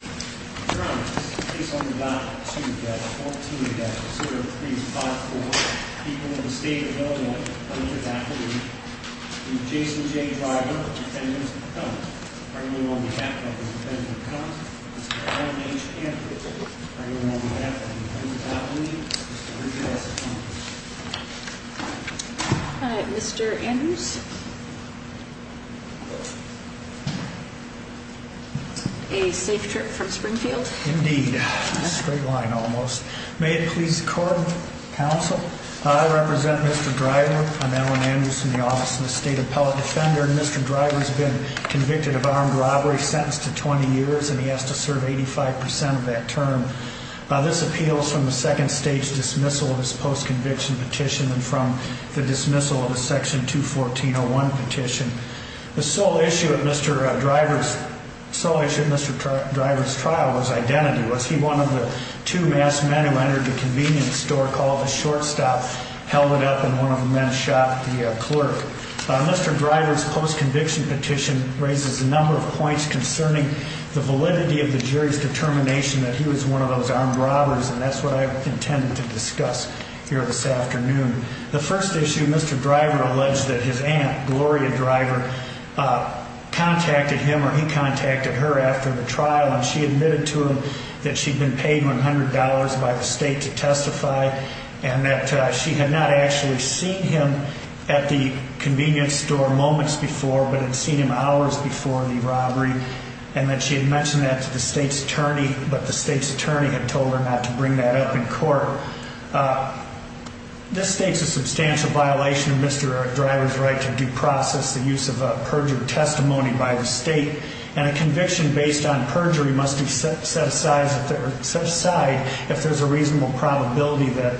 Driver, dependent, come. Are you on behalf of the dependent, come? Mr. I.H. Hanford. Are you on behalf of the dependent, not me? Mr. Richard S. H. Hanford. Mr. Andrews. A safe trip from Springfield. Indeed. Straight line almost. May it please the court, counsel. I represent Mr. Driver. I'm Alan Andrews from the Office of the State Appellate Defender. Mr. Driver has been convicted of armed robbery, sentenced to 20 years, and he has to serve 85% of that term. This appeals from the second stage dismissal of his post-conviction petition and from the dismissal of his Section 214.01 petition. The sole issue of Mr. Driver's trial was identity. Was he one of the two masked men who entered the convenience store, called a short stop, held it up, and one of the men shot the clerk? Mr. Driver's post-conviction petition raises a number of points concerning the validity of the jury's determination that he was one of those armed robbers, and that's what I intended to discuss here this afternoon. The first issue, Mr. Driver alleged that his aunt, Gloria Driver, contacted him or he contacted her after the trial, and she admitted to him that she'd been paid $100 by the state to testify, and that she had not actually seen him at the convenience store moments before, but had seen him hours before the robbery, and that she had mentioned that to the state's attorney, but the state's attorney had told her not to bring that up in court. This states a substantial violation of Mr. Driver's right to due process the use of perjured testimony by the state, and a conviction based on perjury must be set aside if there's a reasonable probability that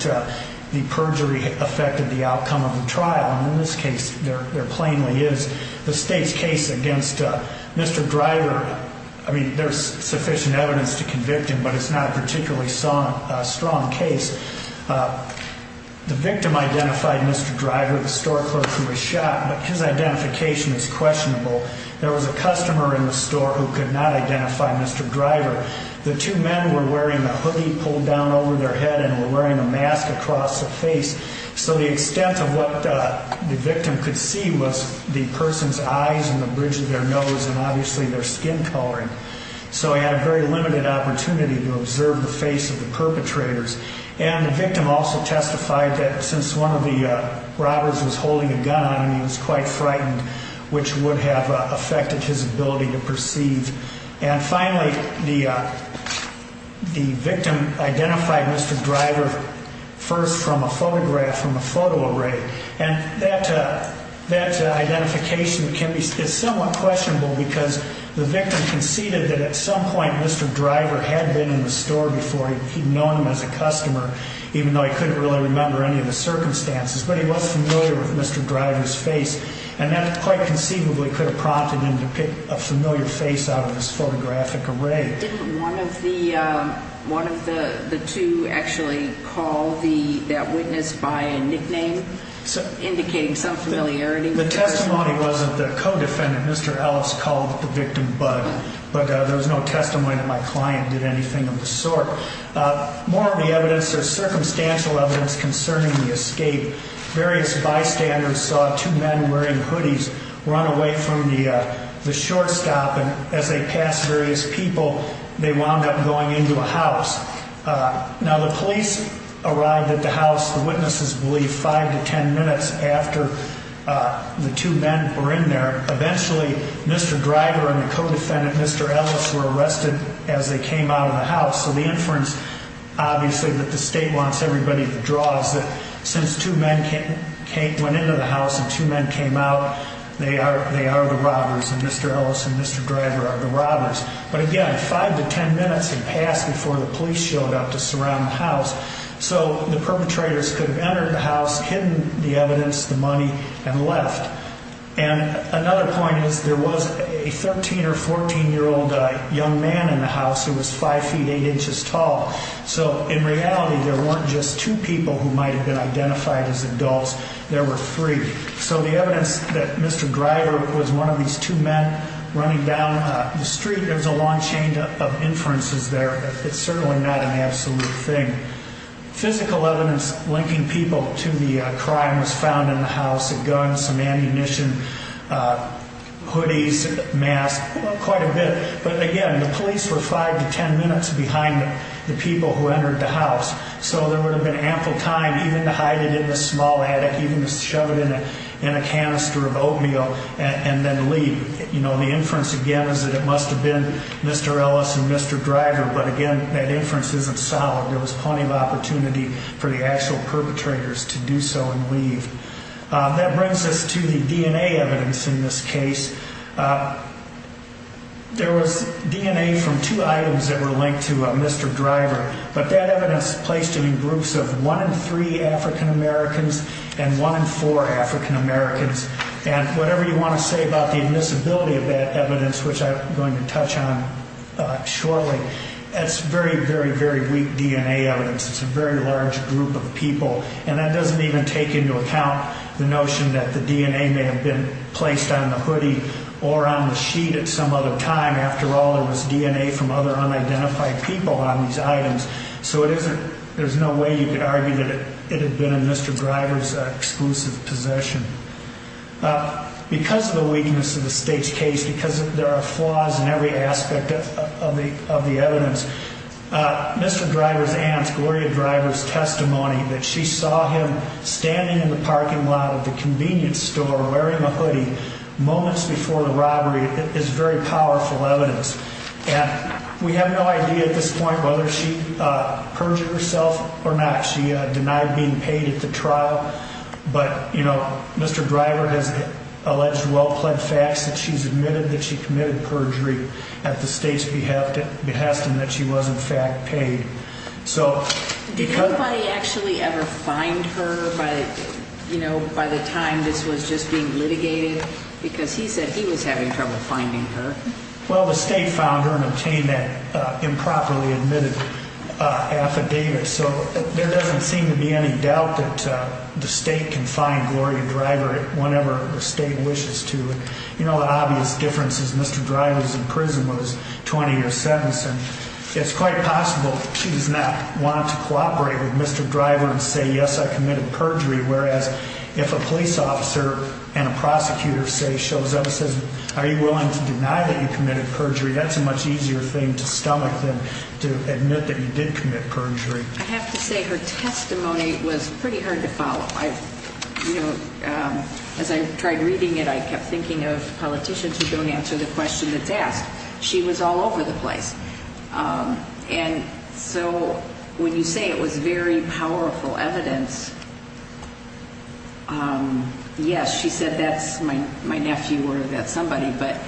the perjury affected the outcome of the trial. In this case, there plainly is. The state's case against Mr. Driver, I mean, there's sufficient evidence to convict him, but it's not a particularly strong case. The victim identified Mr. Driver, the store clerk who was shot, but his identification is questionable. There was a customer in the store who could not identify Mr. Driver. The two men were wearing a hoodie pulled down over their head and were wearing a mask across the face. So the extent of what the victim could see was the person's eyes and the bridge of their nose and obviously their skin coloring. So he had a very limited opportunity to observe the face of the perpetrators. And the victim also testified that since one of the robbers was holding a gun on him, he was quite frightened, which would have affected his ability to perceive. And finally, the victim identified Mr. Driver first from a photograph, from a photo array. And that identification is somewhat questionable because the victim conceded that at some point Mr. Driver had been in the store before. He'd known him as a customer, even though he couldn't really remember any of the circumstances, but he was familiar with Mr. Driver's face. And that quite conceivably could have prompted him to pick a familiar face out of this photographic array. Didn't one of the two actually call that witness by a nickname indicating some familiarity? The testimony wasn't the co-defendant. Mr. Ellis called the victim Bud, but there was no testimony that my client did anything of the sort. More of the evidence, there's circumstantial evidence concerning the escape. Various bystanders saw two men wearing hoodies run away from the shortstop, and as they passed various people, they wound up going into a house. Now, the police arrived at the house, the witnesses believe, five to ten minutes after the two men were in there. Eventually, Mr. Driver and the co-defendant, Mr. Ellis, were arrested as they came out of the house. So the inference, obviously, that the state wants everybody to draw is that since two men went into the house and two men came out, they are the robbers. And Mr. Ellis and Mr. Driver are the robbers. But again, five to ten minutes had passed before the police showed up to surround the house. So the perpetrators could have entered the house, hidden the evidence, the money, and left. And another point is there was a 13 or 14-year-old young man in the house who was five feet, eight inches tall. So in reality, there weren't just two people who might have been identified as adults. There were three. So the evidence that Mr. Driver was one of these two men running down the street, there's a long chain of inferences there. It's certainly not an absolute thing. Physical evidence linking people to the crime was found in the house, a gun, some ammunition, hoodies, masks, quite a bit. But again, the police were five to ten minutes behind the people who entered the house. So there would have been ample time even to hide it in a small attic, even to shove it in a canister of oatmeal, and then leave. The inference, again, is that it must have been Mr. Ellis and Mr. Driver. But again, that inference isn't solid. There was plenty of opportunity for the actual perpetrators to do so and leave. That brings us to the DNA evidence in this case. There was DNA from two items that were linked to Mr. Driver. But that evidence is placed in groups of one in three African Americans and one in four African Americans. And whatever you want to say about the admissibility of that evidence, which I'm going to touch on shortly, that's very, very, very weak DNA evidence. It's a very large group of people. And that doesn't even take into account the notion that the DNA may have been placed on the hoodie or on the sheet at some other time. After all, there was DNA from other unidentified people on these items. So there's no way you could argue that it had been in Mr. Driver's exclusive possession. Because of the weakness of the state's case, because there are flaws in every aspect of the evidence, Mr. Driver's aunt, Gloria Driver's testimony that she saw him standing in the parking lot of the convenience store wearing a hoodie moments before the robbery is very powerful evidence. And we have no idea at this point whether she perjured herself or not. She denied being paid at the trial. But, you know, Mr. Driver has alleged well-plaid facts that she's admitted that she committed perjury at the state's behest and that she was, in fact, paid. So did anybody actually ever find her by, you know, by the time this was just being litigated? Because he said he was having trouble finding her. Well, the state found her and obtained that improperly admitted affidavit. So there doesn't seem to be any doubt that the state can find Gloria Driver whenever the state wishes to. And, you know, the obvious difference is Mr. Driver's in prison with his 20-year sentence. And it's quite possible she does not want to cooperate with Mr. Driver and say, yes, I committed perjury. Whereas if a police officer and a prosecutor, say, shows up and says, are you willing to deny that you committed perjury, that's a much easier thing to stomach than to admit that you did commit perjury. I have to say her testimony was pretty hard to follow. You know, as I tried reading it, I kept thinking of politicians who don't answer the question that's asked. She was all over the place. And so when you say it was very powerful evidence, yes, she said that's my nephew or that's somebody. But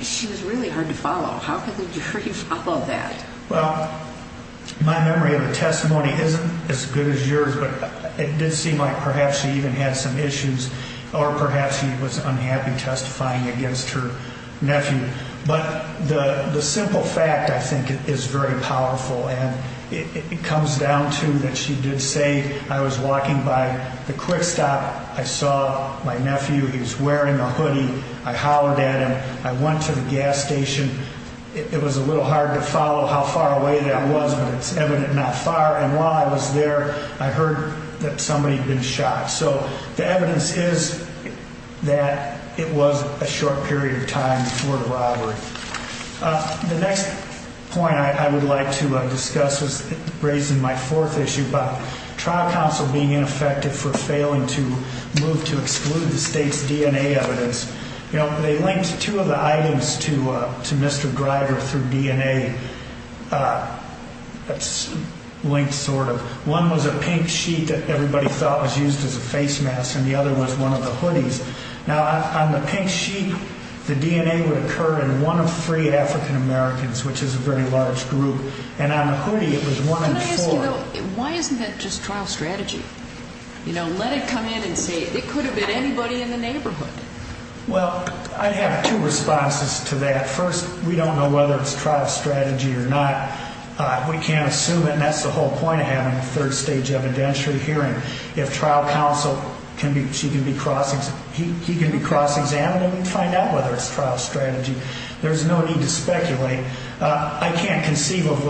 she was really hard to follow. How could the jury follow that? Well, my memory of the testimony isn't as good as yours, but it did seem like perhaps she even had some issues or perhaps she was unhappy testifying against her nephew. But the simple fact, I think, is very powerful. And it comes down to that she did say I was walking by the quick stop. I saw my nephew. He was wearing a hoodie. I hollered at him. I went to the gas station. It was a little hard to follow how far away that was, but it's evident not far. And while I was there, I heard that somebody had been shot. So the evidence is that it was a short period of time before the robbery. The next point I would like to discuss is raising my fourth issue about trial counsel being ineffective for failing to move to exclude the state's DNA evidence. You know, they linked two of the items to Mr. Greider through DNA. That's linked sort of. One was a pink sheet that everybody thought was used as a face mask, and the other was one of the hoodies. Now, on the pink sheet, the DNA would occur in one of three African Americans, which is a very large group. And on the hoodie, it was one in four. Can I ask you, though, why isn't that just trial strategy? You know, let it come in and say it could have been anybody in the neighborhood. Well, I have two responses to that. First, we don't know whether it's trial strategy or not. We can't assume it, and that's the whole point of having a third-stage evidentiary hearing. If trial counsel can be cross-examined, we can find out whether it's trial strategy. There's no need to speculate. I can't conceive of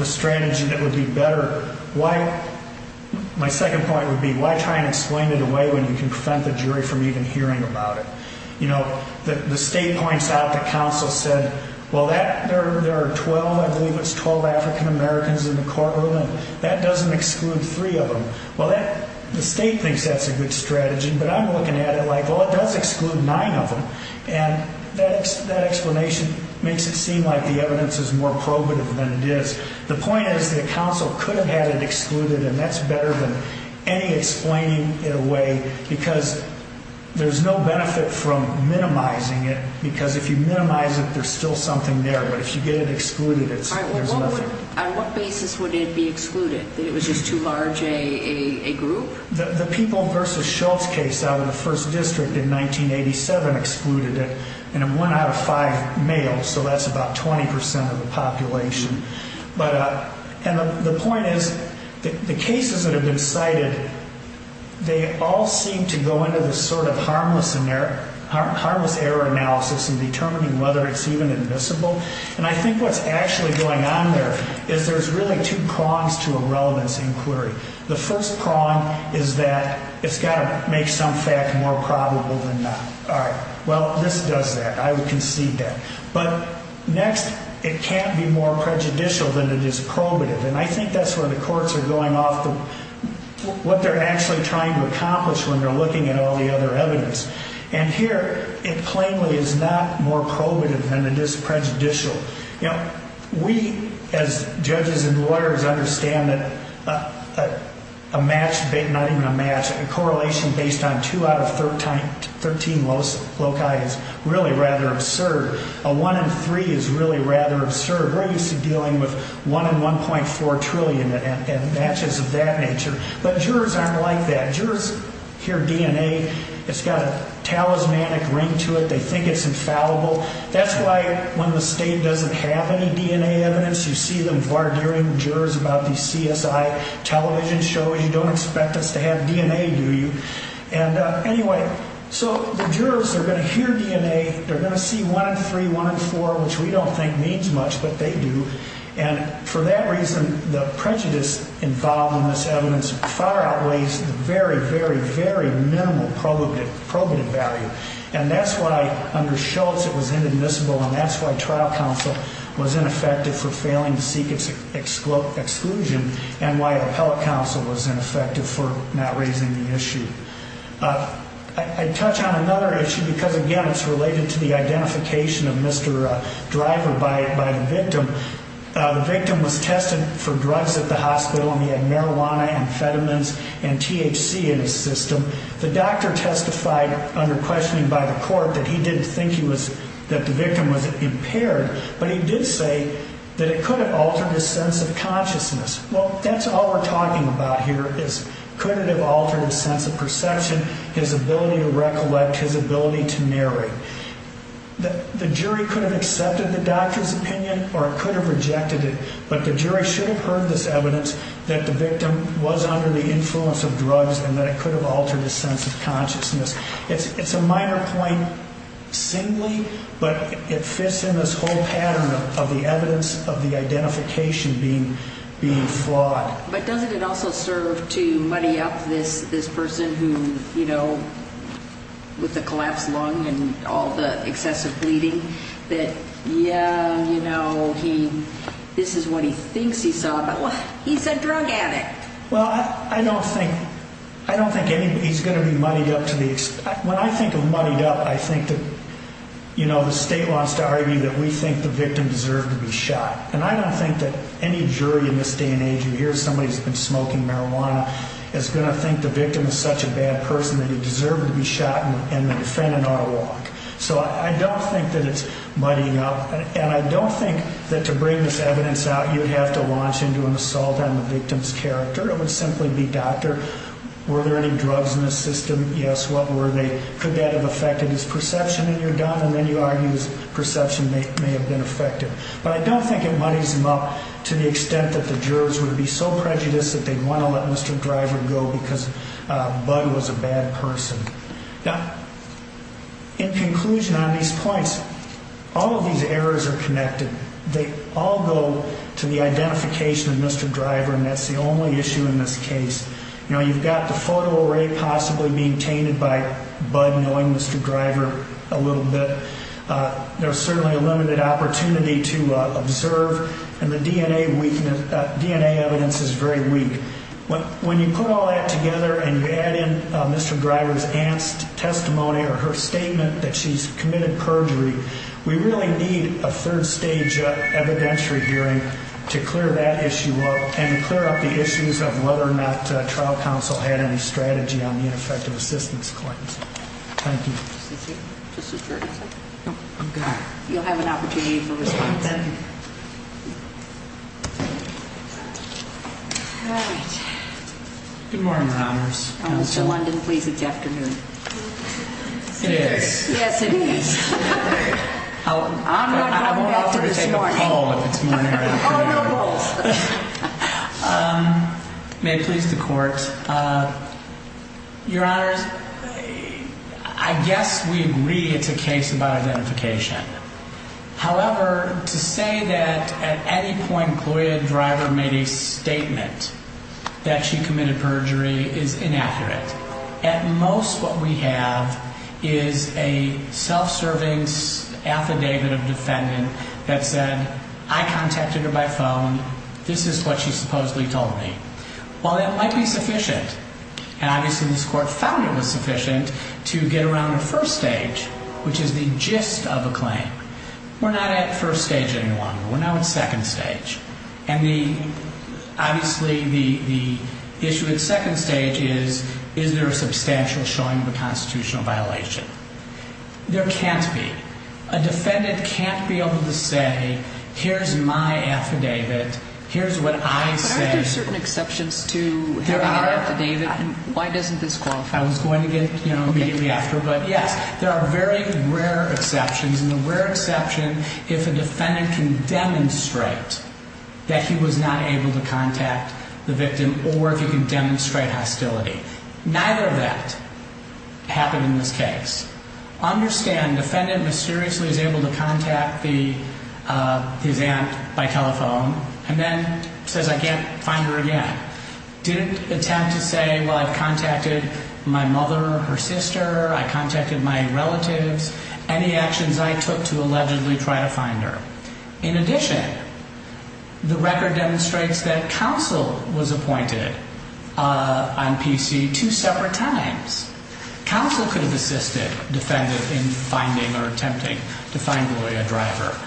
a strategy that would be better. My second point would be, why try and explain it away when you can prevent the jury from even hearing about it? You know, the state points out that counsel said, well, there are 12, I believe it's 12 African Americans in the courtroom, and that doesn't exclude three of them. Well, the state thinks that's a good strategy, but I'm looking at it like, well, it does exclude nine of them. And that explanation makes it seem like the evidence is more probative than it is. The point is that counsel could have had it excluded, and that's better than any explaining it away because there's no benefit from minimizing it, because if you minimize it, there's still something there. But if you get it excluded, there's nothing. All right, well, on what basis would it be excluded, that it was just too large a group? The People v. Schultz case out of the 1st District in 1987 excluded it, and one out of five males, And the point is the cases that have been cited, they all seem to go into this sort of harmless error analysis in determining whether it's even admissible. And I think what's actually going on there is there's really two prongs to a relevance inquiry. The first prong is that it's got to make some fact more probable than not. All right, well, this does that. I would concede that. But next, it can't be more prejudicial than it is probative, and I think that's where the courts are going off what they're actually trying to accomplish when they're looking at all the other evidence. And here it plainly is not more probative than it is prejudicial. You know, we as judges and lawyers understand that a match, not even a match, a correlation based on two out of 13 loci is really rather absurd. A one in three is really rather absurd. We're used to dealing with one in 1.4 trillion and matches of that nature. But jurors aren't like that. Jurors hear DNA. It's got a talismanic ring to it. They think it's infallible. That's why when the state doesn't have any DNA evidence, you see them vardering jurors about these CSI television shows. You don't expect us to have DNA, do you? And anyway, so the jurors are going to hear DNA. They're going to see one in three, one in four, which we don't think means much, but they do. And for that reason, the prejudice involved in this evidence far outweighs the very, very, very minimal probative value. And that's why under Schultz it was inadmissible, and that's why trial counsel was ineffective for failing to seek its exclusion and why appellate counsel was ineffective for not raising the issue. I'd touch on another issue because, again, it's related to the identification of Mr. Driver by the victim. The victim was tested for drugs at the hospital, and he had marijuana, amphetamines, and THC in his system. The doctor testified under questioning by the court that he didn't think that the victim was impaired, but he did say that it could have altered his sense of consciousness. Well, that's all we're talking about here is could it have altered his sense of perception, his ability to recollect, his ability to narrate. The jury could have accepted the doctor's opinion or it could have rejected it, but the jury should have heard this evidence that the victim was under the influence of drugs and that it could have altered his sense of consciousness. It's a minor point singly, but it fits in this whole pattern of the evidence of the identification being flawed. But doesn't it also serve to muddy up this person who, you know, with the collapsed lung and all the excessive bleeding, that, yeah, you know, this is what he thinks he saw, but, well, he's a drug addict. Well, I don't think anybody's going to be muddied up to the extent. When I think of muddied up, I think that, you know, the state wants to argue that we think the victim deserved to be shot, and I don't think that any jury in this day and age who hears somebody who's been smoking marijuana is going to think the victim is such a bad person that he deserved to be shot and the defendant ought to walk. So I don't think that it's muddying up, and I don't think that to bring this evidence out you'd have to launch into an assault on the victim's character. It would simply be, doctor, were there any drugs in the system? Yes, what were they? Could that have affected his perception in your doubt? And then you argue his perception may have been affected. But I don't think it muddies him up to the extent that the jurors would be so prejudiced that they'd want to let Mr. Driver go because Bud was a bad person. Now, in conclusion on these points, all of these errors are connected. They all go to the identification of Mr. Driver, and that's the only issue in this case. You know, you've got the photo array possibly being tainted by Bud knowing Mr. Driver a little bit. There's certainly a limited opportunity to observe, and the DNA evidence is very weak. When you put all that together and you add in Mr. Driver's testimony or her statement that she's committed perjury, we really need a third stage evidentiary hearing to clear that issue up and clear up the issues of whether or not trial counsel had any strategy on the ineffective assistance claims. Thank you. Just a second. I'm good. You'll have an opportunity for response. Thank you. All right. Good morning, Your Honors. London, please. It's afternoon. It is. Yes, it is. I'm not going back to this morning. I won't offer to take a poll if it's morning or afternoon. Oh, no polls. May it please the Court. Your Honors, I guess we agree it's a case about identification. However, to say that at any point Gloria Driver made a statement that she committed perjury is inaccurate. At most what we have is a self-serving affidavit of defendant that said, I contacted her by phone. This is what she supposedly told me. While that might be sufficient, and obviously this Court found it was sufficient, to get around the first stage, which is the gist of a claim. We're not at first stage anymore. We're now at second stage. And obviously the issue at second stage is, is there a substantial showing of a constitutional violation? There can't be. A defendant can't be able to say, here's my affidavit. Here's what I said. Aren't there certain exceptions to having an affidavit? There are. Why doesn't this qualify? I was going to get immediately after, but yes, there are very rare exceptions. There's a rare exception if a defendant can demonstrate that he was not able to contact the victim, or if he can demonstrate hostility. Neither of that happened in this case. Understand defendant mysteriously is able to contact his aunt by telephone, and then says, I can't find her again. Didn't attempt to say, well, I've contacted my mother, her sister. I contacted my relatives. Any actions I took to allegedly try to find her. In addition, the record demonstrates that counsel was appointed on PC two separate times. Counsel could have assisted defendant in finding or attempting to find the lawyer driver.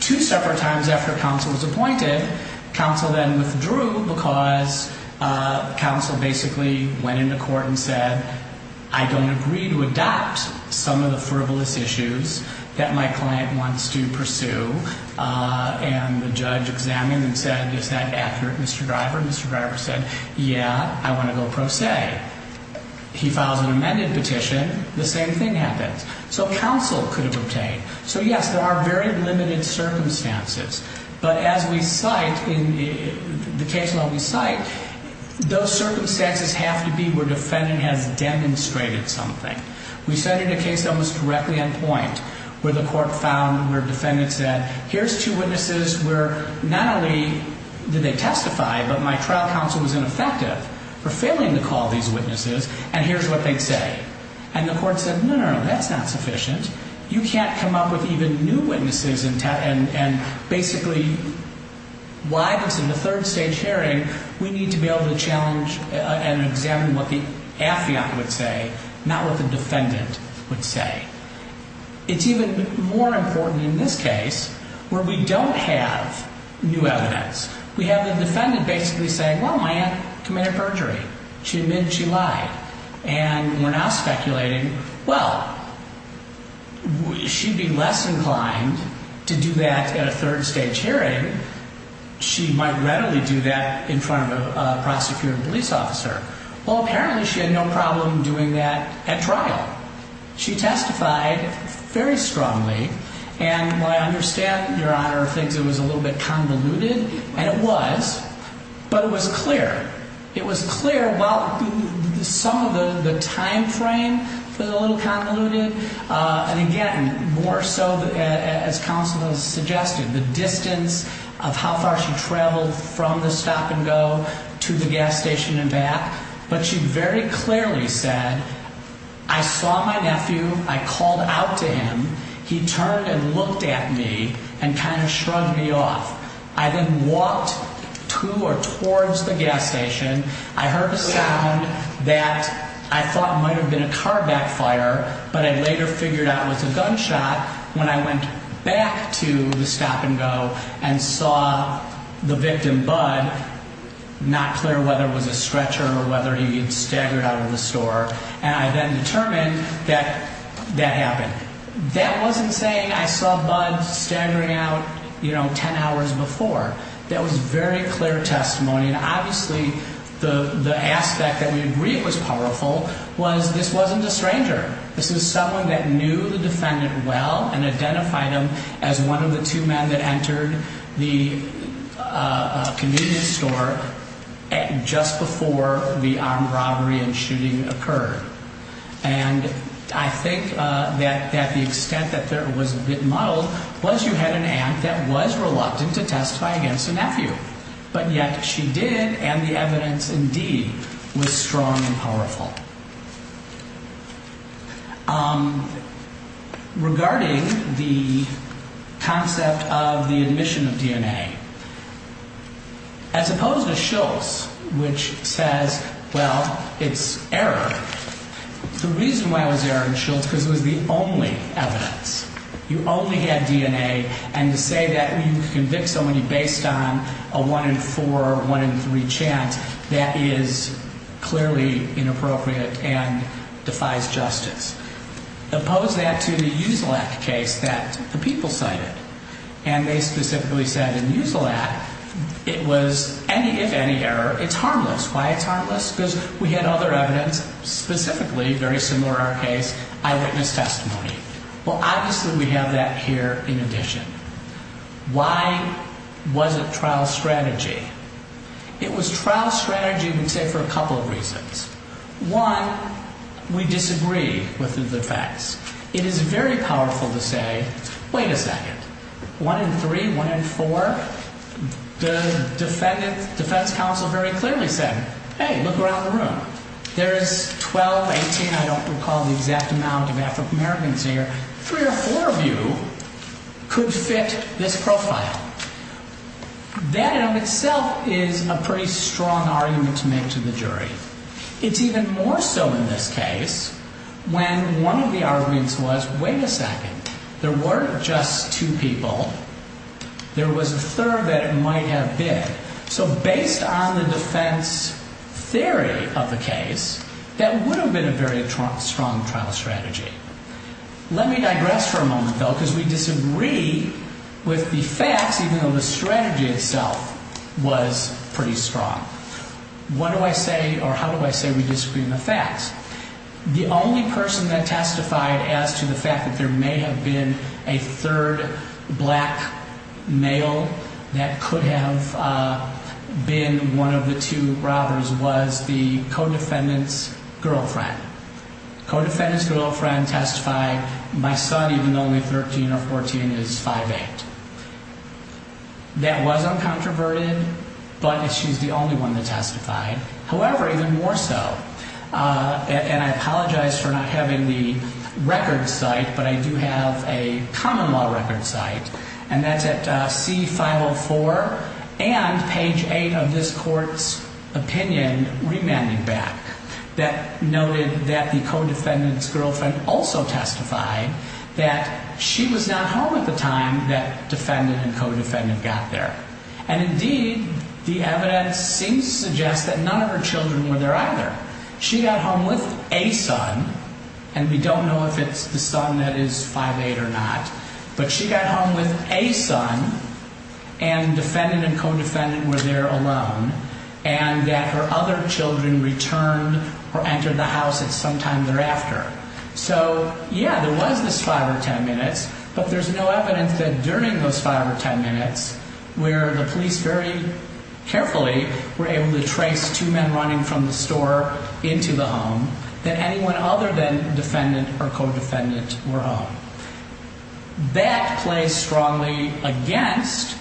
Two separate times after counsel was appointed, counsel then withdrew because counsel basically went into court and said, I don't agree to adopt some of the frivolous issues that my client wants to pursue. And the judge examined and said, is that accurate, Mr. Driver? Mr. Driver said, yeah, I want to go pro se. He files an amended petition. The same thing happens. So counsel could have obtained. So yes, there are very limited circumstances. But as we cite, in the case law we cite, those circumstances have to be where defendant has demonstrated something. We cited a case that was directly on point where the court found where defendant said, here's two witnesses where not only did they testify, but my trial counsel was ineffective for failing to call these witnesses, and here's what they say. And the court said, no, no, no, that's not sufficient. You can't come up with even new witnesses and basically why this is a third stage hearing. We need to be able to challenge and examine what the affiant would say, not what the defendant would say. It's even more important in this case where we don't have new evidence. We have the defendant basically saying, well, my aunt committed perjury. She admitted she lied. And we're now speculating, well, she'd be less inclined to do that at a third stage hearing. She might readily do that in front of a prosecutor and police officer. Well, apparently she had no problem doing that at trial. She testified very strongly. And what I understand, Your Honor, are things that was a little bit convoluted, and it was, but it was clear. It was clear while some of the timeframe was a little convoluted, and again, more so as counsel has suggested, the distance of how far she traveled from the stop and go to the gas station and back. But she very clearly said, I saw my nephew. I called out to him. He turned and looked at me and kind of shrugged me off. I then walked to or towards the gas station. I heard a sound that I thought might have been a car backfire, but I later figured out was a gunshot when I went back to the stop and go and saw the victim, Bud, not clear whether it was a stretcher or whether he had staggered out of the store. And I then determined that that happened. That wasn't saying I saw Bud staggering out, you know, 10 hours before. That was very clear testimony, and obviously the aspect that we agree was powerful was this wasn't a stranger. This was someone that knew the defendant well and identified him as one of the two men that entered the convenience store just before the armed robbery and shooting occurred. And I think that that the extent that there was a bit muddled was you had an aunt that was reluctant to testify against a nephew. But yet she did. And the evidence indeed was strong and powerful. Regarding the concept of the admission of DNA, as opposed to Shultz, which says, well, it's error. The reason why it was error in Shultz is because it was the only evidence. You only had DNA. And to say that when you convict somebody based on a one in four or one in three chance, that is clearly inappropriate and defies justice. Oppose that to the Usilak case that the people cited. And they specifically said in Usilak it was any, if any, error. It's harmless. Why it's harmless? Because we had other evidence specifically very similar to our case, eyewitness testimony. Well, obviously we have that here in addition. Why was it trial strategy? It was trial strategy, I would say, for a couple of reasons. One, we disagree with the facts. It is very powerful to say, wait a second, one in three, one in four. The defendant's defense counsel very clearly said, hey, look around the room. There is 12, 18, I don't recall the exact amount of African-Americans here. Three or four of you could fit this profile. That in itself is a pretty strong argument to make to the jury. It's even more so in this case when one of the arguments was, wait a second, there weren't just two people. There was a third that it might have been. So based on the defense theory of the case, that would have been a very strong trial strategy. Let me digress for a moment, though, because we disagree with the facts, even though the strategy itself was pretty strong. What do I say, or how do I say we disagree on the facts? The only person that testified as to the fact that there may have been a third black male that could have been one of the two robbers was the co-defendant's girlfriend. Co-defendant's girlfriend testified, my son, even though he's 13 or 14, is 5'8". That was uncontroverted, but she's the only one that testified. However, even more so, and I apologize for not having the record site, but I do have a common law record site, and that's at C-504 and page 8 of this court's opinion remanding back that noted that the co-defendant's girlfriend also testified that she was not home at the time that defendant and co-defendant got there. And indeed, the evidence seems to suggest that none of her children were there either. She got home with a son, and we don't know if it's the son that is 5'8 or not, but she got home with a son, and defendant and co-defendant were there alone, and that her other children returned or entered the house at some time thereafter. So, yeah, there was this 5 or 10 minutes, but there's no evidence that during those 5 or 10 minutes, where the police very carefully were able to trace two men running from the store into the home, that anyone other than defendant or co-defendant were home. That plays strongly against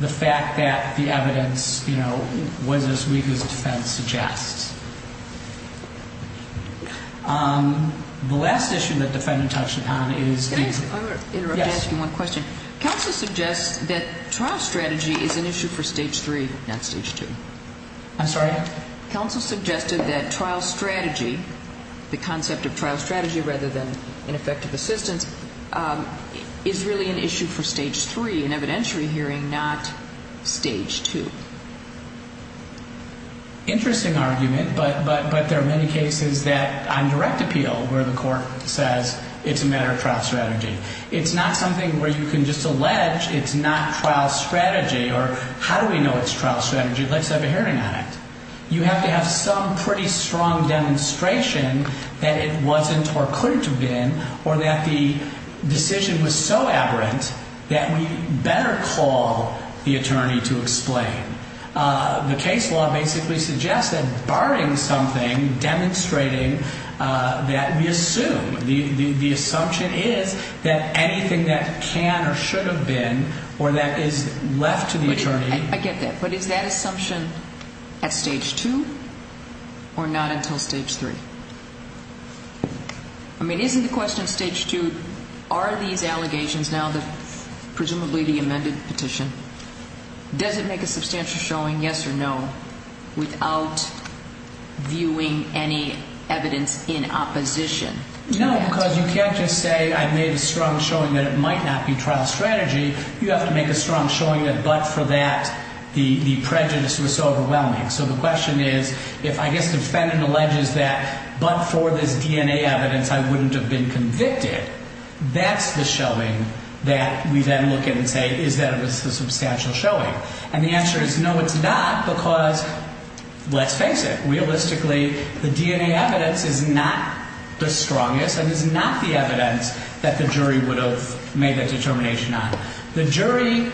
the fact that the evidence, you know, was as weak as defense suggests. The last issue that defendant touched upon is the – Can I interrupt by asking one question? Yes. Counsel suggests that trial strategy is an issue for stage 3, not stage 2. I'm sorry? Counsel suggested that trial strategy, the concept of trial strategy rather than ineffective assistance, is really an issue for stage 3, an evidentiary hearing, not stage 2. Interesting argument, but there are many cases that on direct appeal where the court says it's a matter of trial strategy. It's not something where you can just allege it's not trial strategy or how do we know it's trial strategy? Let's have a hearing on it. You have to have some pretty strong demonstration that it wasn't or couldn't have been or that the decision was so aberrant that we better call the attorney to explain. The case law basically suggests that barring something, demonstrating that we assume, the assumption is that anything that can or should have been or that is left to the attorney – I get that, but is that assumption at stage 2 or not until stage 3? I mean, isn't the question stage 2, are these allegations now presumably the amended petition? Does it make a substantial showing, yes or no, without viewing any evidence in opposition? No, because you can't just say I've made a strong showing that it might not be trial strategy. You have to make a strong showing that but for that the prejudice was so overwhelming. So the question is if I guess the defendant alleges that but for this DNA evidence I wouldn't have been convicted, that's the showing that we then look at and say is that a substantial showing? And the answer is no, it's not because let's face it. Realistically, the DNA evidence is not the strongest and is not the evidence that the jury would have made that determination on. The jury,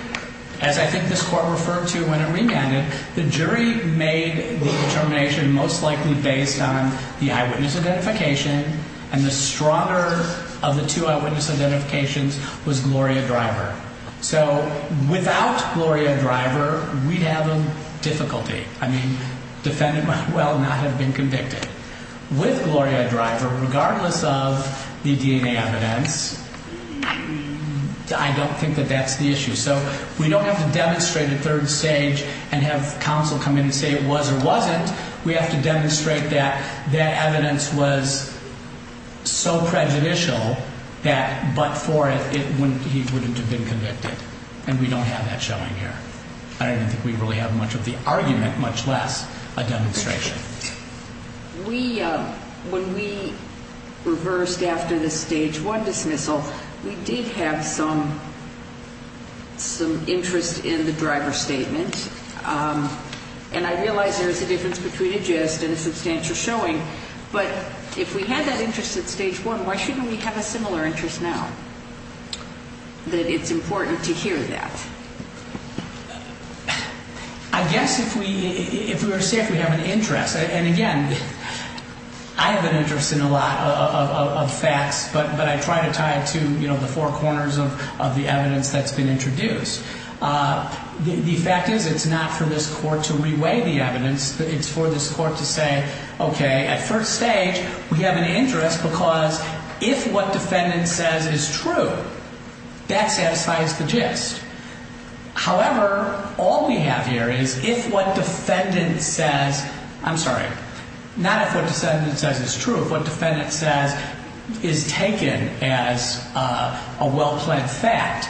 as I think this Court referred to when it remanded, the jury made the determination most likely based on the eyewitness identification and the stronger of the two eyewitness identifications was Gloria Driver. So without Gloria Driver, we'd have a difficulty. I mean, defendant might well not have been convicted. With Gloria Driver, regardless of the DNA evidence, I don't think that that's the issue. So we don't have to demonstrate a third stage and have counsel come in and say it was or wasn't. We have to demonstrate that that evidence was so prejudicial that but for it he wouldn't have been convicted. And we don't have that showing here. I don't think we really have much of the argument, much less a demonstration. When we reversed after the Stage 1 dismissal, we did have some interest in the Driver statement. And I realize there is a difference between a gist and a substantial showing, but if we had that interest at Stage 1, why shouldn't we have a similar interest now, that it's important to hear that? I guess if we were to say if we have an interest, and again, I have an interest in a lot of facts, but I try to tie it to the four corners of the evidence that's been introduced. The fact is it's not for this court to reweigh the evidence. It's for this court to say, okay, at first stage, we have an interest because if what defendant says is true, that satisfies the gist. However, all we have here is if what defendant says, I'm sorry, not if what defendant says is true, if what defendant says is taken as a well-planned fact,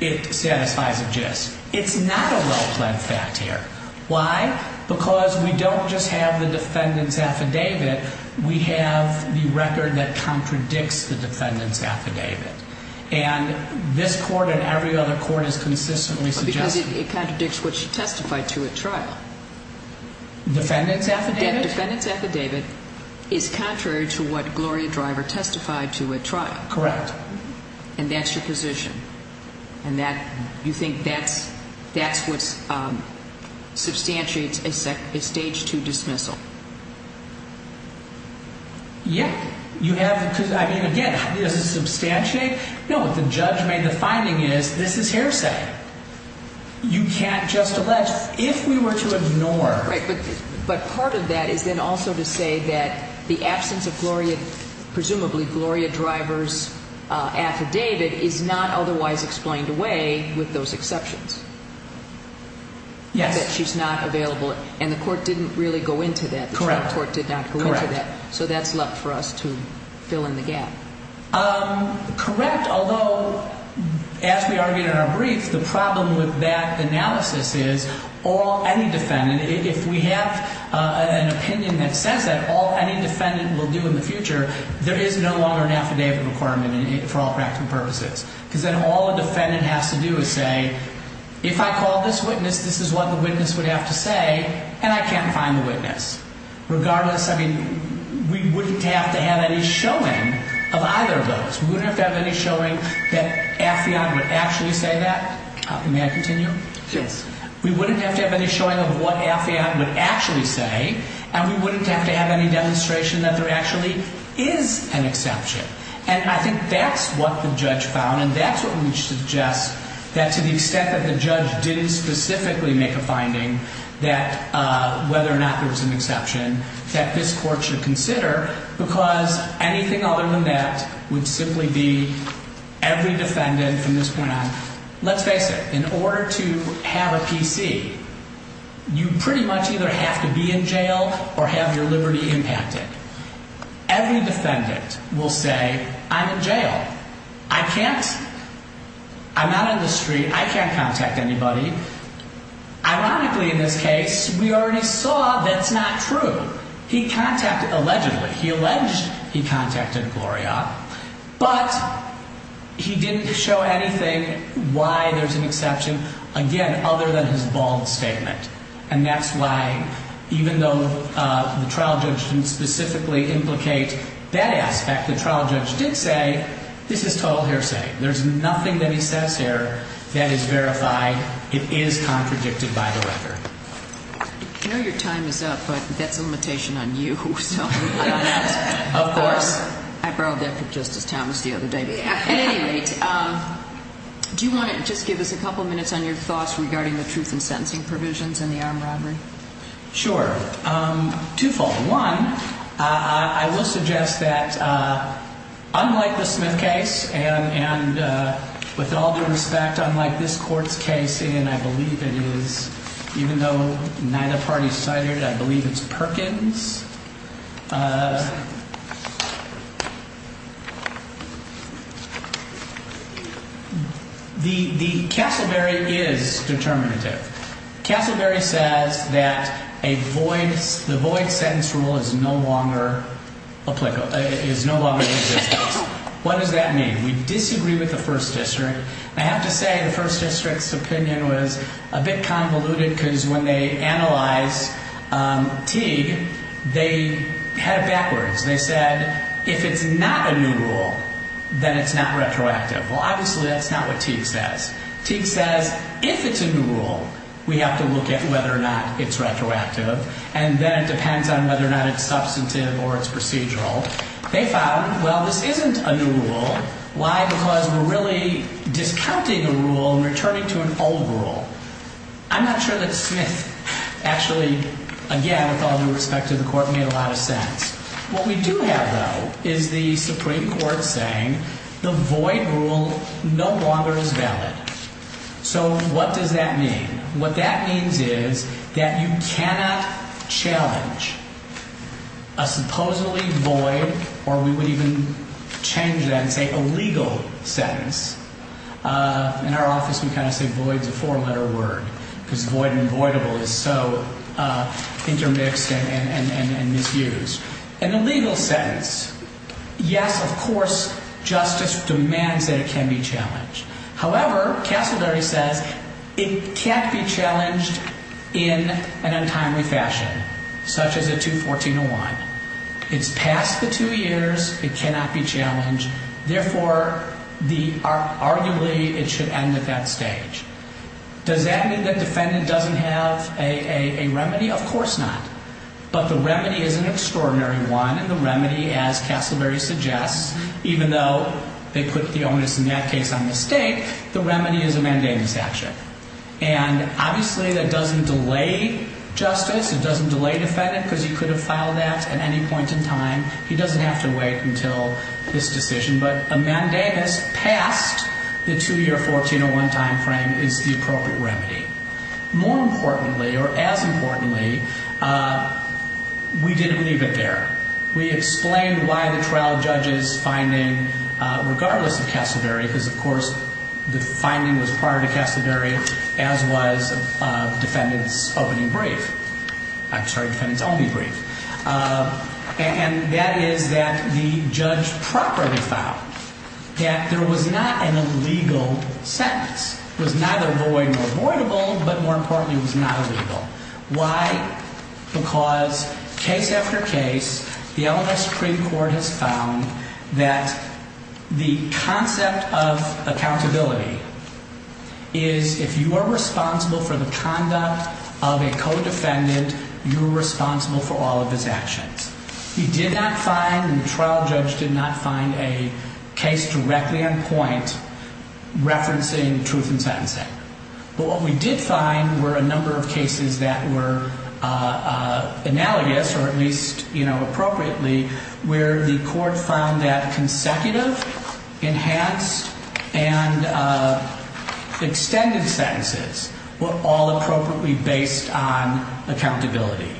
it satisfies a gist. It's not a well-planned fact here. Why? Because we don't just have the defendant's affidavit. We have the record that contradicts the defendant's affidavit. And this court and every other court has consistently suggested that. Because it contradicts what she testified to at trial. Defendant's affidavit? Defendant's affidavit is contrary to what Gloria Driver testified to at trial. Correct. And that's your position. And that you think that's what substantiates a stage 2 dismissal. Yeah. You have to, I mean, again, does it substantiate? No. The judge made the finding is this is hearsay. You can't just allege. If we were to ignore. Right. But part of that is then also to say that the absence of Gloria, presumably Gloria Driver's affidavit, is not otherwise explained away with those exceptions. Yes. That she's not available. And the court didn't really go into that. Correct. The Supreme Court did not go into that. Correct. So that's left for us to fill in the gap. Correct. Although, as we argued in our brief, the problem with that analysis is all any defendant, if we have an opinion that says that, all any defendant will do in the future, there is no longer an affidavit requirement for all practical purposes. Because then all a defendant has to do is say, if I call this witness, this is what the witness would have to say. And I can't find the witness. Regardless, I mean, we wouldn't have to have any showing of either of those. We wouldn't have to have any showing that Affion would actually say that. May I continue? Yes. We wouldn't have to have any showing of what Affion would actually say. And we wouldn't have to have any demonstration that there actually is an exception. And I think that's what the judge found. And that's what we suggest, that to the extent that the judge didn't specifically make a finding, that whether or not there was an exception, that this court should consider. Because anything other than that would simply be every defendant from this point on. Let's face it. In order to have a PC, you pretty much either have to be in jail or have your liberty impacted. Every defendant will say, I'm in jail. I can't, I'm not in the street. I can't contact anybody. Ironically, in this case, we already saw that's not true. He contacted, allegedly, he alleged he contacted Gloria. But he didn't show anything why there's an exception, again, other than his bald statement. And that's why, even though the trial judge didn't specifically implicate that aspect, the trial judge did say, this is total hearsay. There's nothing that he says here that is verified. It is contradicted by the record. I know your time is up, but that's a limitation on you. Of course. I borrowed that from Justice Thomas the other day. At any rate, do you want to just give us a couple minutes on your thoughts regarding the truth and sentencing provisions in the armed robbery? Sure. Twofold. One, I will suggest that, unlike the Smith case, and with all due respect, unlike this court's case, and I believe it is, even though neither party cited, I believe it's Perkins. The Castleberry is determinative. Castleberry says that a void, the void sentence rule is no longer applicable, is no longer in existence. What does that mean? We disagree with the first district. I have to say the first district's opinion was a bit convoluted because when they analyzed Teague, they had it backwards. They said, if it's not a new rule, then it's not retroactive. Well, obviously that's not what Teague says. Teague says, if it's a new rule, we have to look at whether or not it's retroactive, and then it depends on whether or not it's substantive or it's procedural. They found, well, this isn't a new rule. Why? Because we're really discounting a rule and returning to an old rule. I'm not sure that Smith actually, again, with all due respect to the court, made a lot of sense. What we do have, though, is the Supreme Court saying the void rule no longer is valid. So what does that mean? What that means is that you cannot challenge a supposedly void, or we would even change that and say illegal sentence. In our office, we kind of say void is a four-letter word because void and avoidable is so intermixed and misused. An illegal sentence, yes, of course, justice demands that it can be challenged. However, Castleberry says it can't be challenged in an untimely fashion, such as a 214-01. It's past the two years. It cannot be challenged. Therefore, arguably, it should end at that stage. Does that mean the defendant doesn't have a remedy? Of course not. But the remedy is an extraordinary one, and the remedy, as Castleberry suggests, even though they put the onus in that case on the state, the remedy is a mandamus action. And obviously that doesn't delay justice. It doesn't delay the defendant because he could have filed that at any point in time. He doesn't have to wait until this decision. But a mandamus past the two-year 1401 time frame is the appropriate remedy. More importantly, or as importantly, we didn't leave it there. We explained why the trial judge's finding, regardless of Castleberry, because, of course, the finding was prior to Castleberry, as was defendant's opening brief. I'm sorry, defendant's only brief. And that is that the judge properly found that there was not an illegal sentence. It was neither void nor avoidable, but more importantly, it was not illegal. Why? Because case after case, the LMS Supreme Court has found that the concept of accountability is if you are responsible for the conduct of a co-defendant, you're responsible for all of his actions. He did not find, and the trial judge did not find, a case directly on point referencing truth in sentencing. But what we did find were a number of cases that were analogous, or at least, you know, appropriately, where the court found that consecutive, enhanced, and extended sentences were all appropriately based on accountability.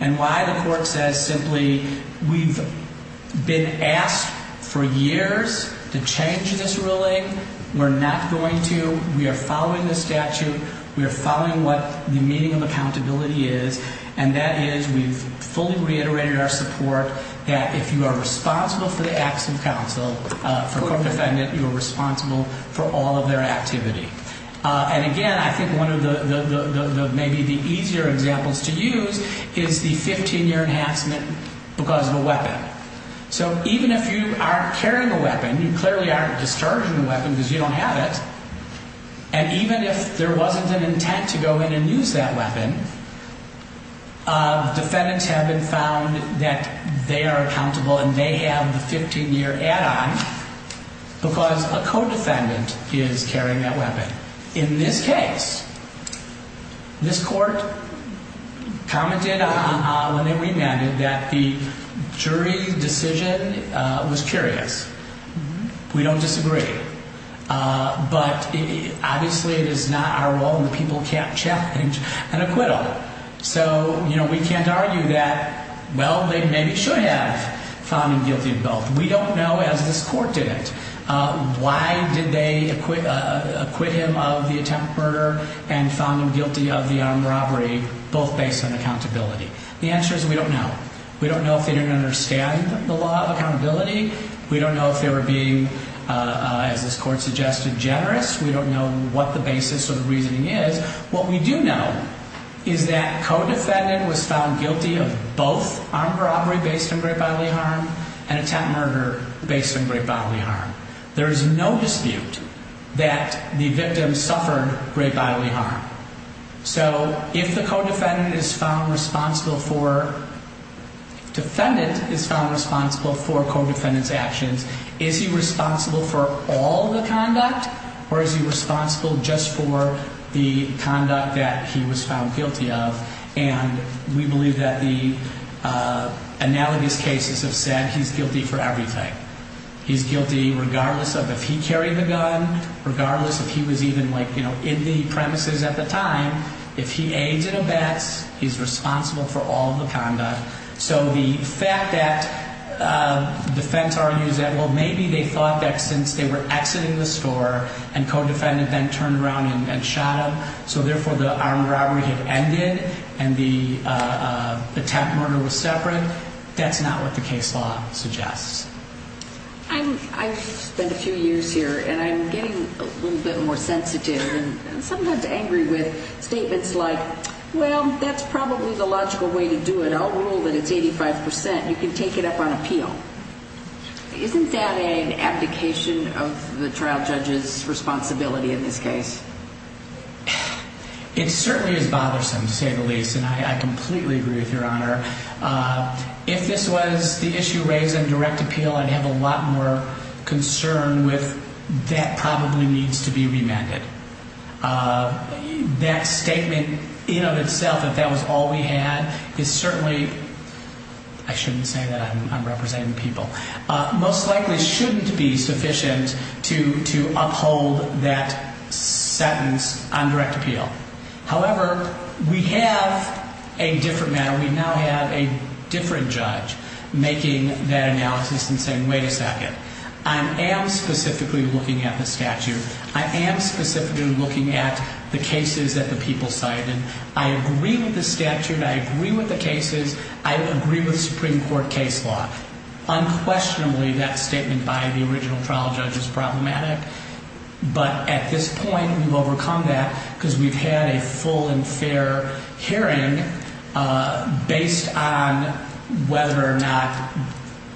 And why? The court says simply, we've been asked for years to change this ruling. We're not going to. We are following the statute. We are following what the meaning of accountability is, and that is we've fully reiterated our support that if you are responsible for the acts of counsel, for a co-defendant, you are responsible for all of their activity. And, again, I think one of the maybe the easier examples to use is the 15-year enhancement because of a weapon. So even if you aren't carrying a weapon, you clearly aren't discharging a weapon because you don't have it, and even if there wasn't an intent to go in and use that weapon, defendants have been found that they are accountable and they have the 15-year add-on because a co-defendant is carrying that weapon. In this case, this court commented when they remanded that the jury decision was curious. We don't disagree, but obviously it is not our role and the people can't challenge an acquittal. So, you know, we can't argue that, well, they maybe should have found him guilty of both. We don't know as this court did it. Why did they acquit him of the attempt murder and found him guilty of the armed robbery, both based on accountability? The answer is we don't know. We don't know if they didn't understand the law of accountability. We don't know if they were being, as this court suggested, generous. We don't know what the basis of the reasoning is. What we do know is that co-defendant was found guilty of both armed robbery based on great bodily harm and attempt murder based on great bodily harm. There is no dispute that the victim suffered great bodily harm. So if the defendant is found responsible for co-defendant's actions, is he responsible for all the conduct or is he responsible just for the conduct that he was found guilty of? And we believe that the analogous cases have said he's guilty for everything. He's guilty regardless of if he carried the gun, regardless if he was even like, you know, in the premises at the time. If he aids and abets, he's responsible for all the conduct. So the fact that defense argues that, well, maybe they thought that since they were exiting the store and co-defendant then turned around and shot him, so therefore the armed robbery had ended and the attempt murder was separate, that's not what the case law suggests. I've spent a few years here and I'm getting a little bit more sensitive and sometimes angry with statements like, well, that's probably the logical way to do it. I'll rule that it's 85%. You can take it up on appeal. Isn't that an abdication of the trial judge's responsibility in this case? It certainly is bothersome, to say the least, and I completely agree with Your Honor. If this was the issue raised in direct appeal, I'd have a lot more concern with that probably needs to be remanded. That statement in and of itself that that was all we had is certainly, I shouldn't say that, I'm representing people, most likely shouldn't be sufficient to uphold that sentence on direct appeal. However, we have a different matter. We now have a different judge making that analysis and saying, wait a second, I am specifically looking at the statute. I am specifically looking at the cases that the people cited. I agree with the statute. I agree with the cases. I agree with Supreme Court case law. Unquestionably, that statement by the original trial judge is problematic. But at this point, we've overcome that because we've had a full and fair hearing based on whether or not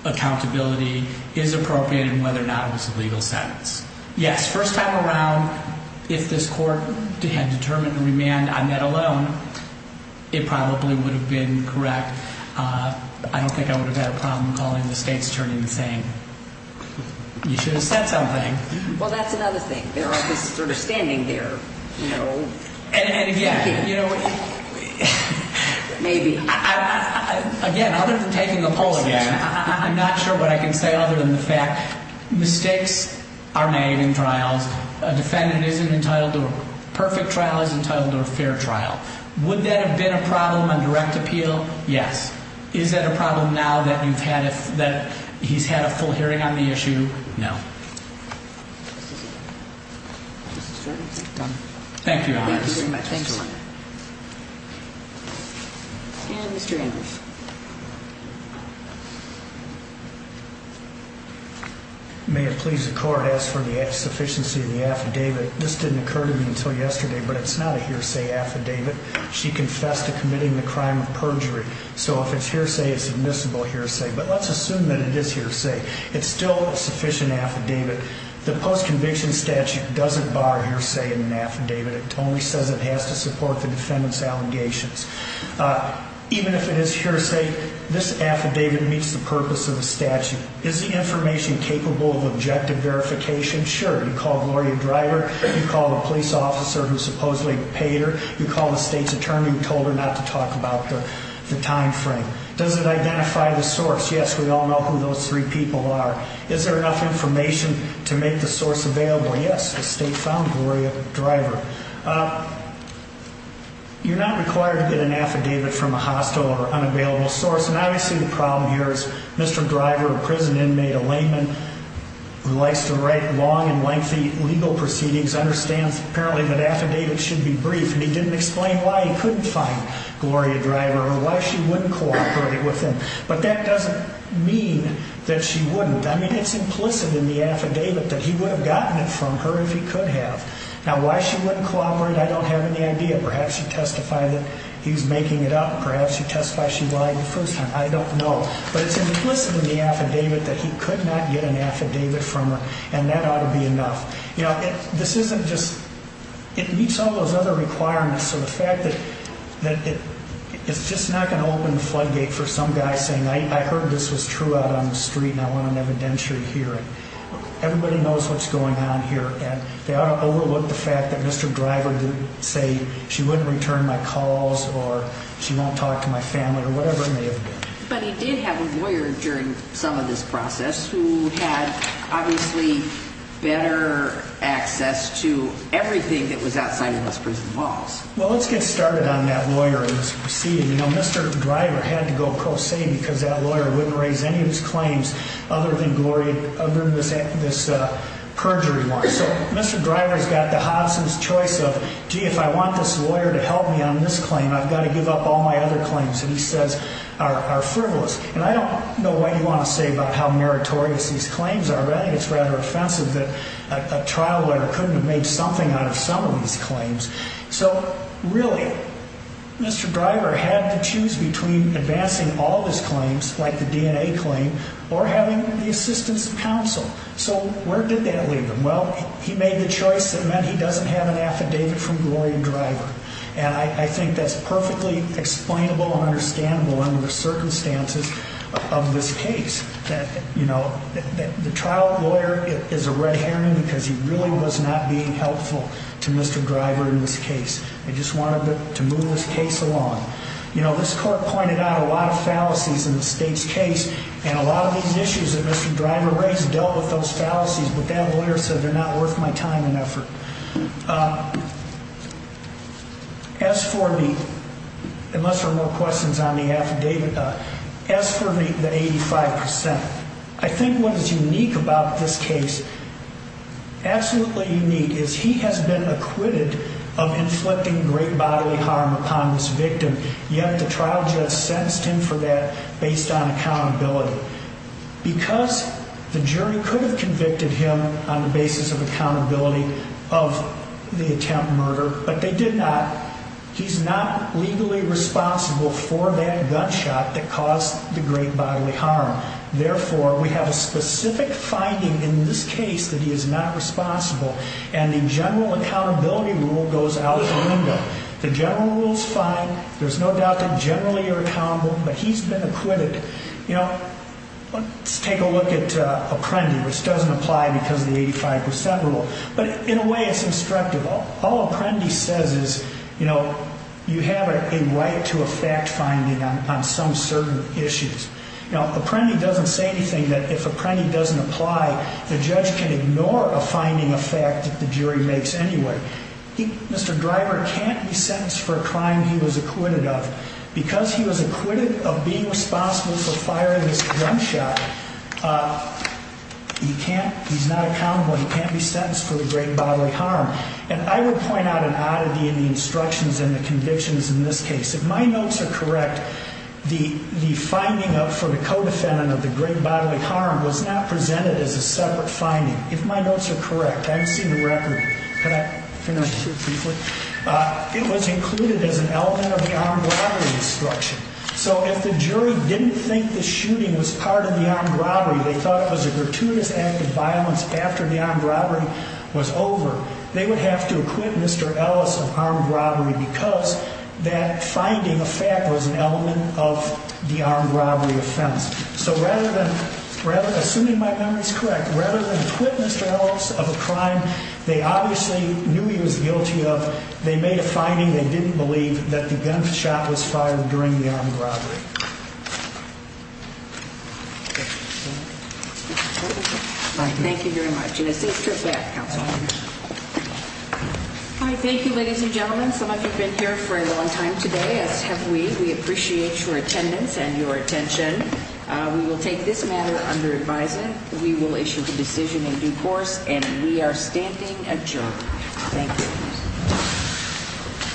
accountability is appropriate and whether or not it was a legal sentence. Yes, first time around, if this court had determined remand on that alone, it probably would have been correct. I don't think I would have had a problem calling the state's attorney and saying, you should have said something. Well, that's another thing. There are just sort of standing there, you know. And again, you know. Maybe. Again, other than taking the poll again, I'm not sure what I can say other than the fact mistakes are made in trials. A defendant isn't entitled to a perfect trial, isn't entitled to a fair trial. Would that have been a problem on direct appeal? Yes. Is that a problem now that you've had, that he's had a full hearing on the issue? No. This is done. Thank you. Thank you very much. And Mr. May it please the court as for the sufficiency of the affidavit. This didn't occur to me until yesterday, but it's not a hearsay affidavit. She confessed to committing the crime of perjury. So if it's hearsay, it's admissible hearsay. But let's assume that it is hearsay. It's still a sufficient affidavit. The post-conviction statute doesn't bar hearsay in an affidavit. It only says it has to support the defendant's allegations. Even if it is hearsay, this affidavit meets the purpose of the statute. Is the information capable of objective verification? Sure. You call Gloria Driver. You call the police officer who supposedly paid her. You call the state's attorney who told her not to talk about the time frame. Does it identify the source? Yes, we all know who those three people are. Is there enough information to make the source available? Yes, the state found Gloria Driver. You're not required to get an affidavit from a hostile or unavailable source. And obviously the problem here is Mr. Driver, a prison inmate, a layman who likes to write long and lengthy legal proceedings, understands apparently that affidavits should be brief. And he didn't explain why he couldn't find Gloria Driver or why she wouldn't cooperate with him. But that doesn't mean that she wouldn't. I mean, it's implicit in the affidavit that he would have gotten it from her if he could have. Now, why she wouldn't cooperate, I don't have any idea. Perhaps she testified that he was making it up. Perhaps she testified she lied the first time. I don't know. But it's implicit in the affidavit that he could not get an affidavit from her. And that ought to be enough. You know, this isn't just – it meets all those other requirements. So the fact that it's just not going to open the floodgate for some guy saying, I heard this was true out on the street and I want an evidentiary hearing. Everybody knows what's going on here. And they ought to overlook the fact that Mr. Driver would say she wouldn't return my calls or she won't talk to my family or whatever it may have been. But he did have a lawyer during some of this process who had, obviously, better access to everything that was outside of those prison walls. Well, let's get started on that lawyer in this proceeding. You know, Mr. Driver had to go pro se because that lawyer wouldn't raise any of his claims other than this perjury one. So Mr. Driver has got the Hobson's choice of, gee, if I want this lawyer to help me on this claim, I've got to give up all my other claims, and he says, are frivolous. And I don't know what you want to say about how meritorious these claims are, but I think it's rather offensive that a trial lawyer couldn't have made something out of some of these claims. So really, Mr. Driver had to choose between advancing all of his claims, like the DNA claim, or having the assistance of counsel. So where did that leave him? Well, he made the choice that meant he doesn't have an affidavit from Gloria Driver. And I think that's perfectly explainable and understandable under the circumstances of this case. You know, the trial lawyer is a red herring because he really was not being helpful to Mr. Driver in this case. They just wanted to move this case along. You know, this court pointed out a lot of fallacies in the state's case, and a lot of these issues that Mr. Driver raised dealt with those fallacies, but that lawyer said they're not worth my time and effort. As for me, unless there are more questions on the affidavit, as for the 85%, I think what is unique about this case, absolutely unique, is he has been acquitted of inflicting great bodily harm upon this victim, yet the trial judge sentenced him for that based on accountability. Because the jury could have convicted him on the basis of accountability of the attempt murder, but they did not. He's not legally responsible for that gunshot that caused the great bodily harm. Therefore, we have a specific finding in this case that he is not responsible, and the general accountability rule goes out the window. The general rule is fine. There's no doubt that generally you're accountable, but he's been acquitted. You know, let's take a look at Apprendi, which doesn't apply because of the 85% rule, but in a way it's instructive. All Apprendi says is, you know, you have a right to a fact finding on some certain issues. Now, Apprendi doesn't say anything that if Apprendi doesn't apply, the judge can ignore a finding of fact that the jury makes anyway. Mr. Driver can't be sentenced for a crime he was acquitted of. Because he was acquitted of being responsible for firing this gunshot, he can't. He's not accountable. He can't be sentenced for the great bodily harm. And I would point out an oddity in the instructions and the convictions in this case. If my notes are correct, the finding for the co-defendant of the great bodily harm was not presented as a separate finding. If my notes are correct, I haven't seen the record. Can I finish briefly? It was included as an element of the armed robbery instruction. So if the jury didn't think the shooting was part of the armed robbery, they thought it was a gratuitous act of violence after the armed robbery was over, they would have to acquit Mr. Ellis of armed robbery because that finding of fact was an element of the armed robbery offense. So rather than, assuming my memory is correct, rather than acquit Mr. Ellis of a crime, they obviously knew he was guilty of, they made a finding they didn't believe, that the gunshot was fired during the armed robbery. Thank you very much. And I think we're back, Counsel. Thank you, ladies and gentlemen. Some of you have been here for a long time today, as have we. We appreciate your attendance and your attention. We will take this matter under advisement. We will issue the decision in due course, and we are standing adjourned. Thank you.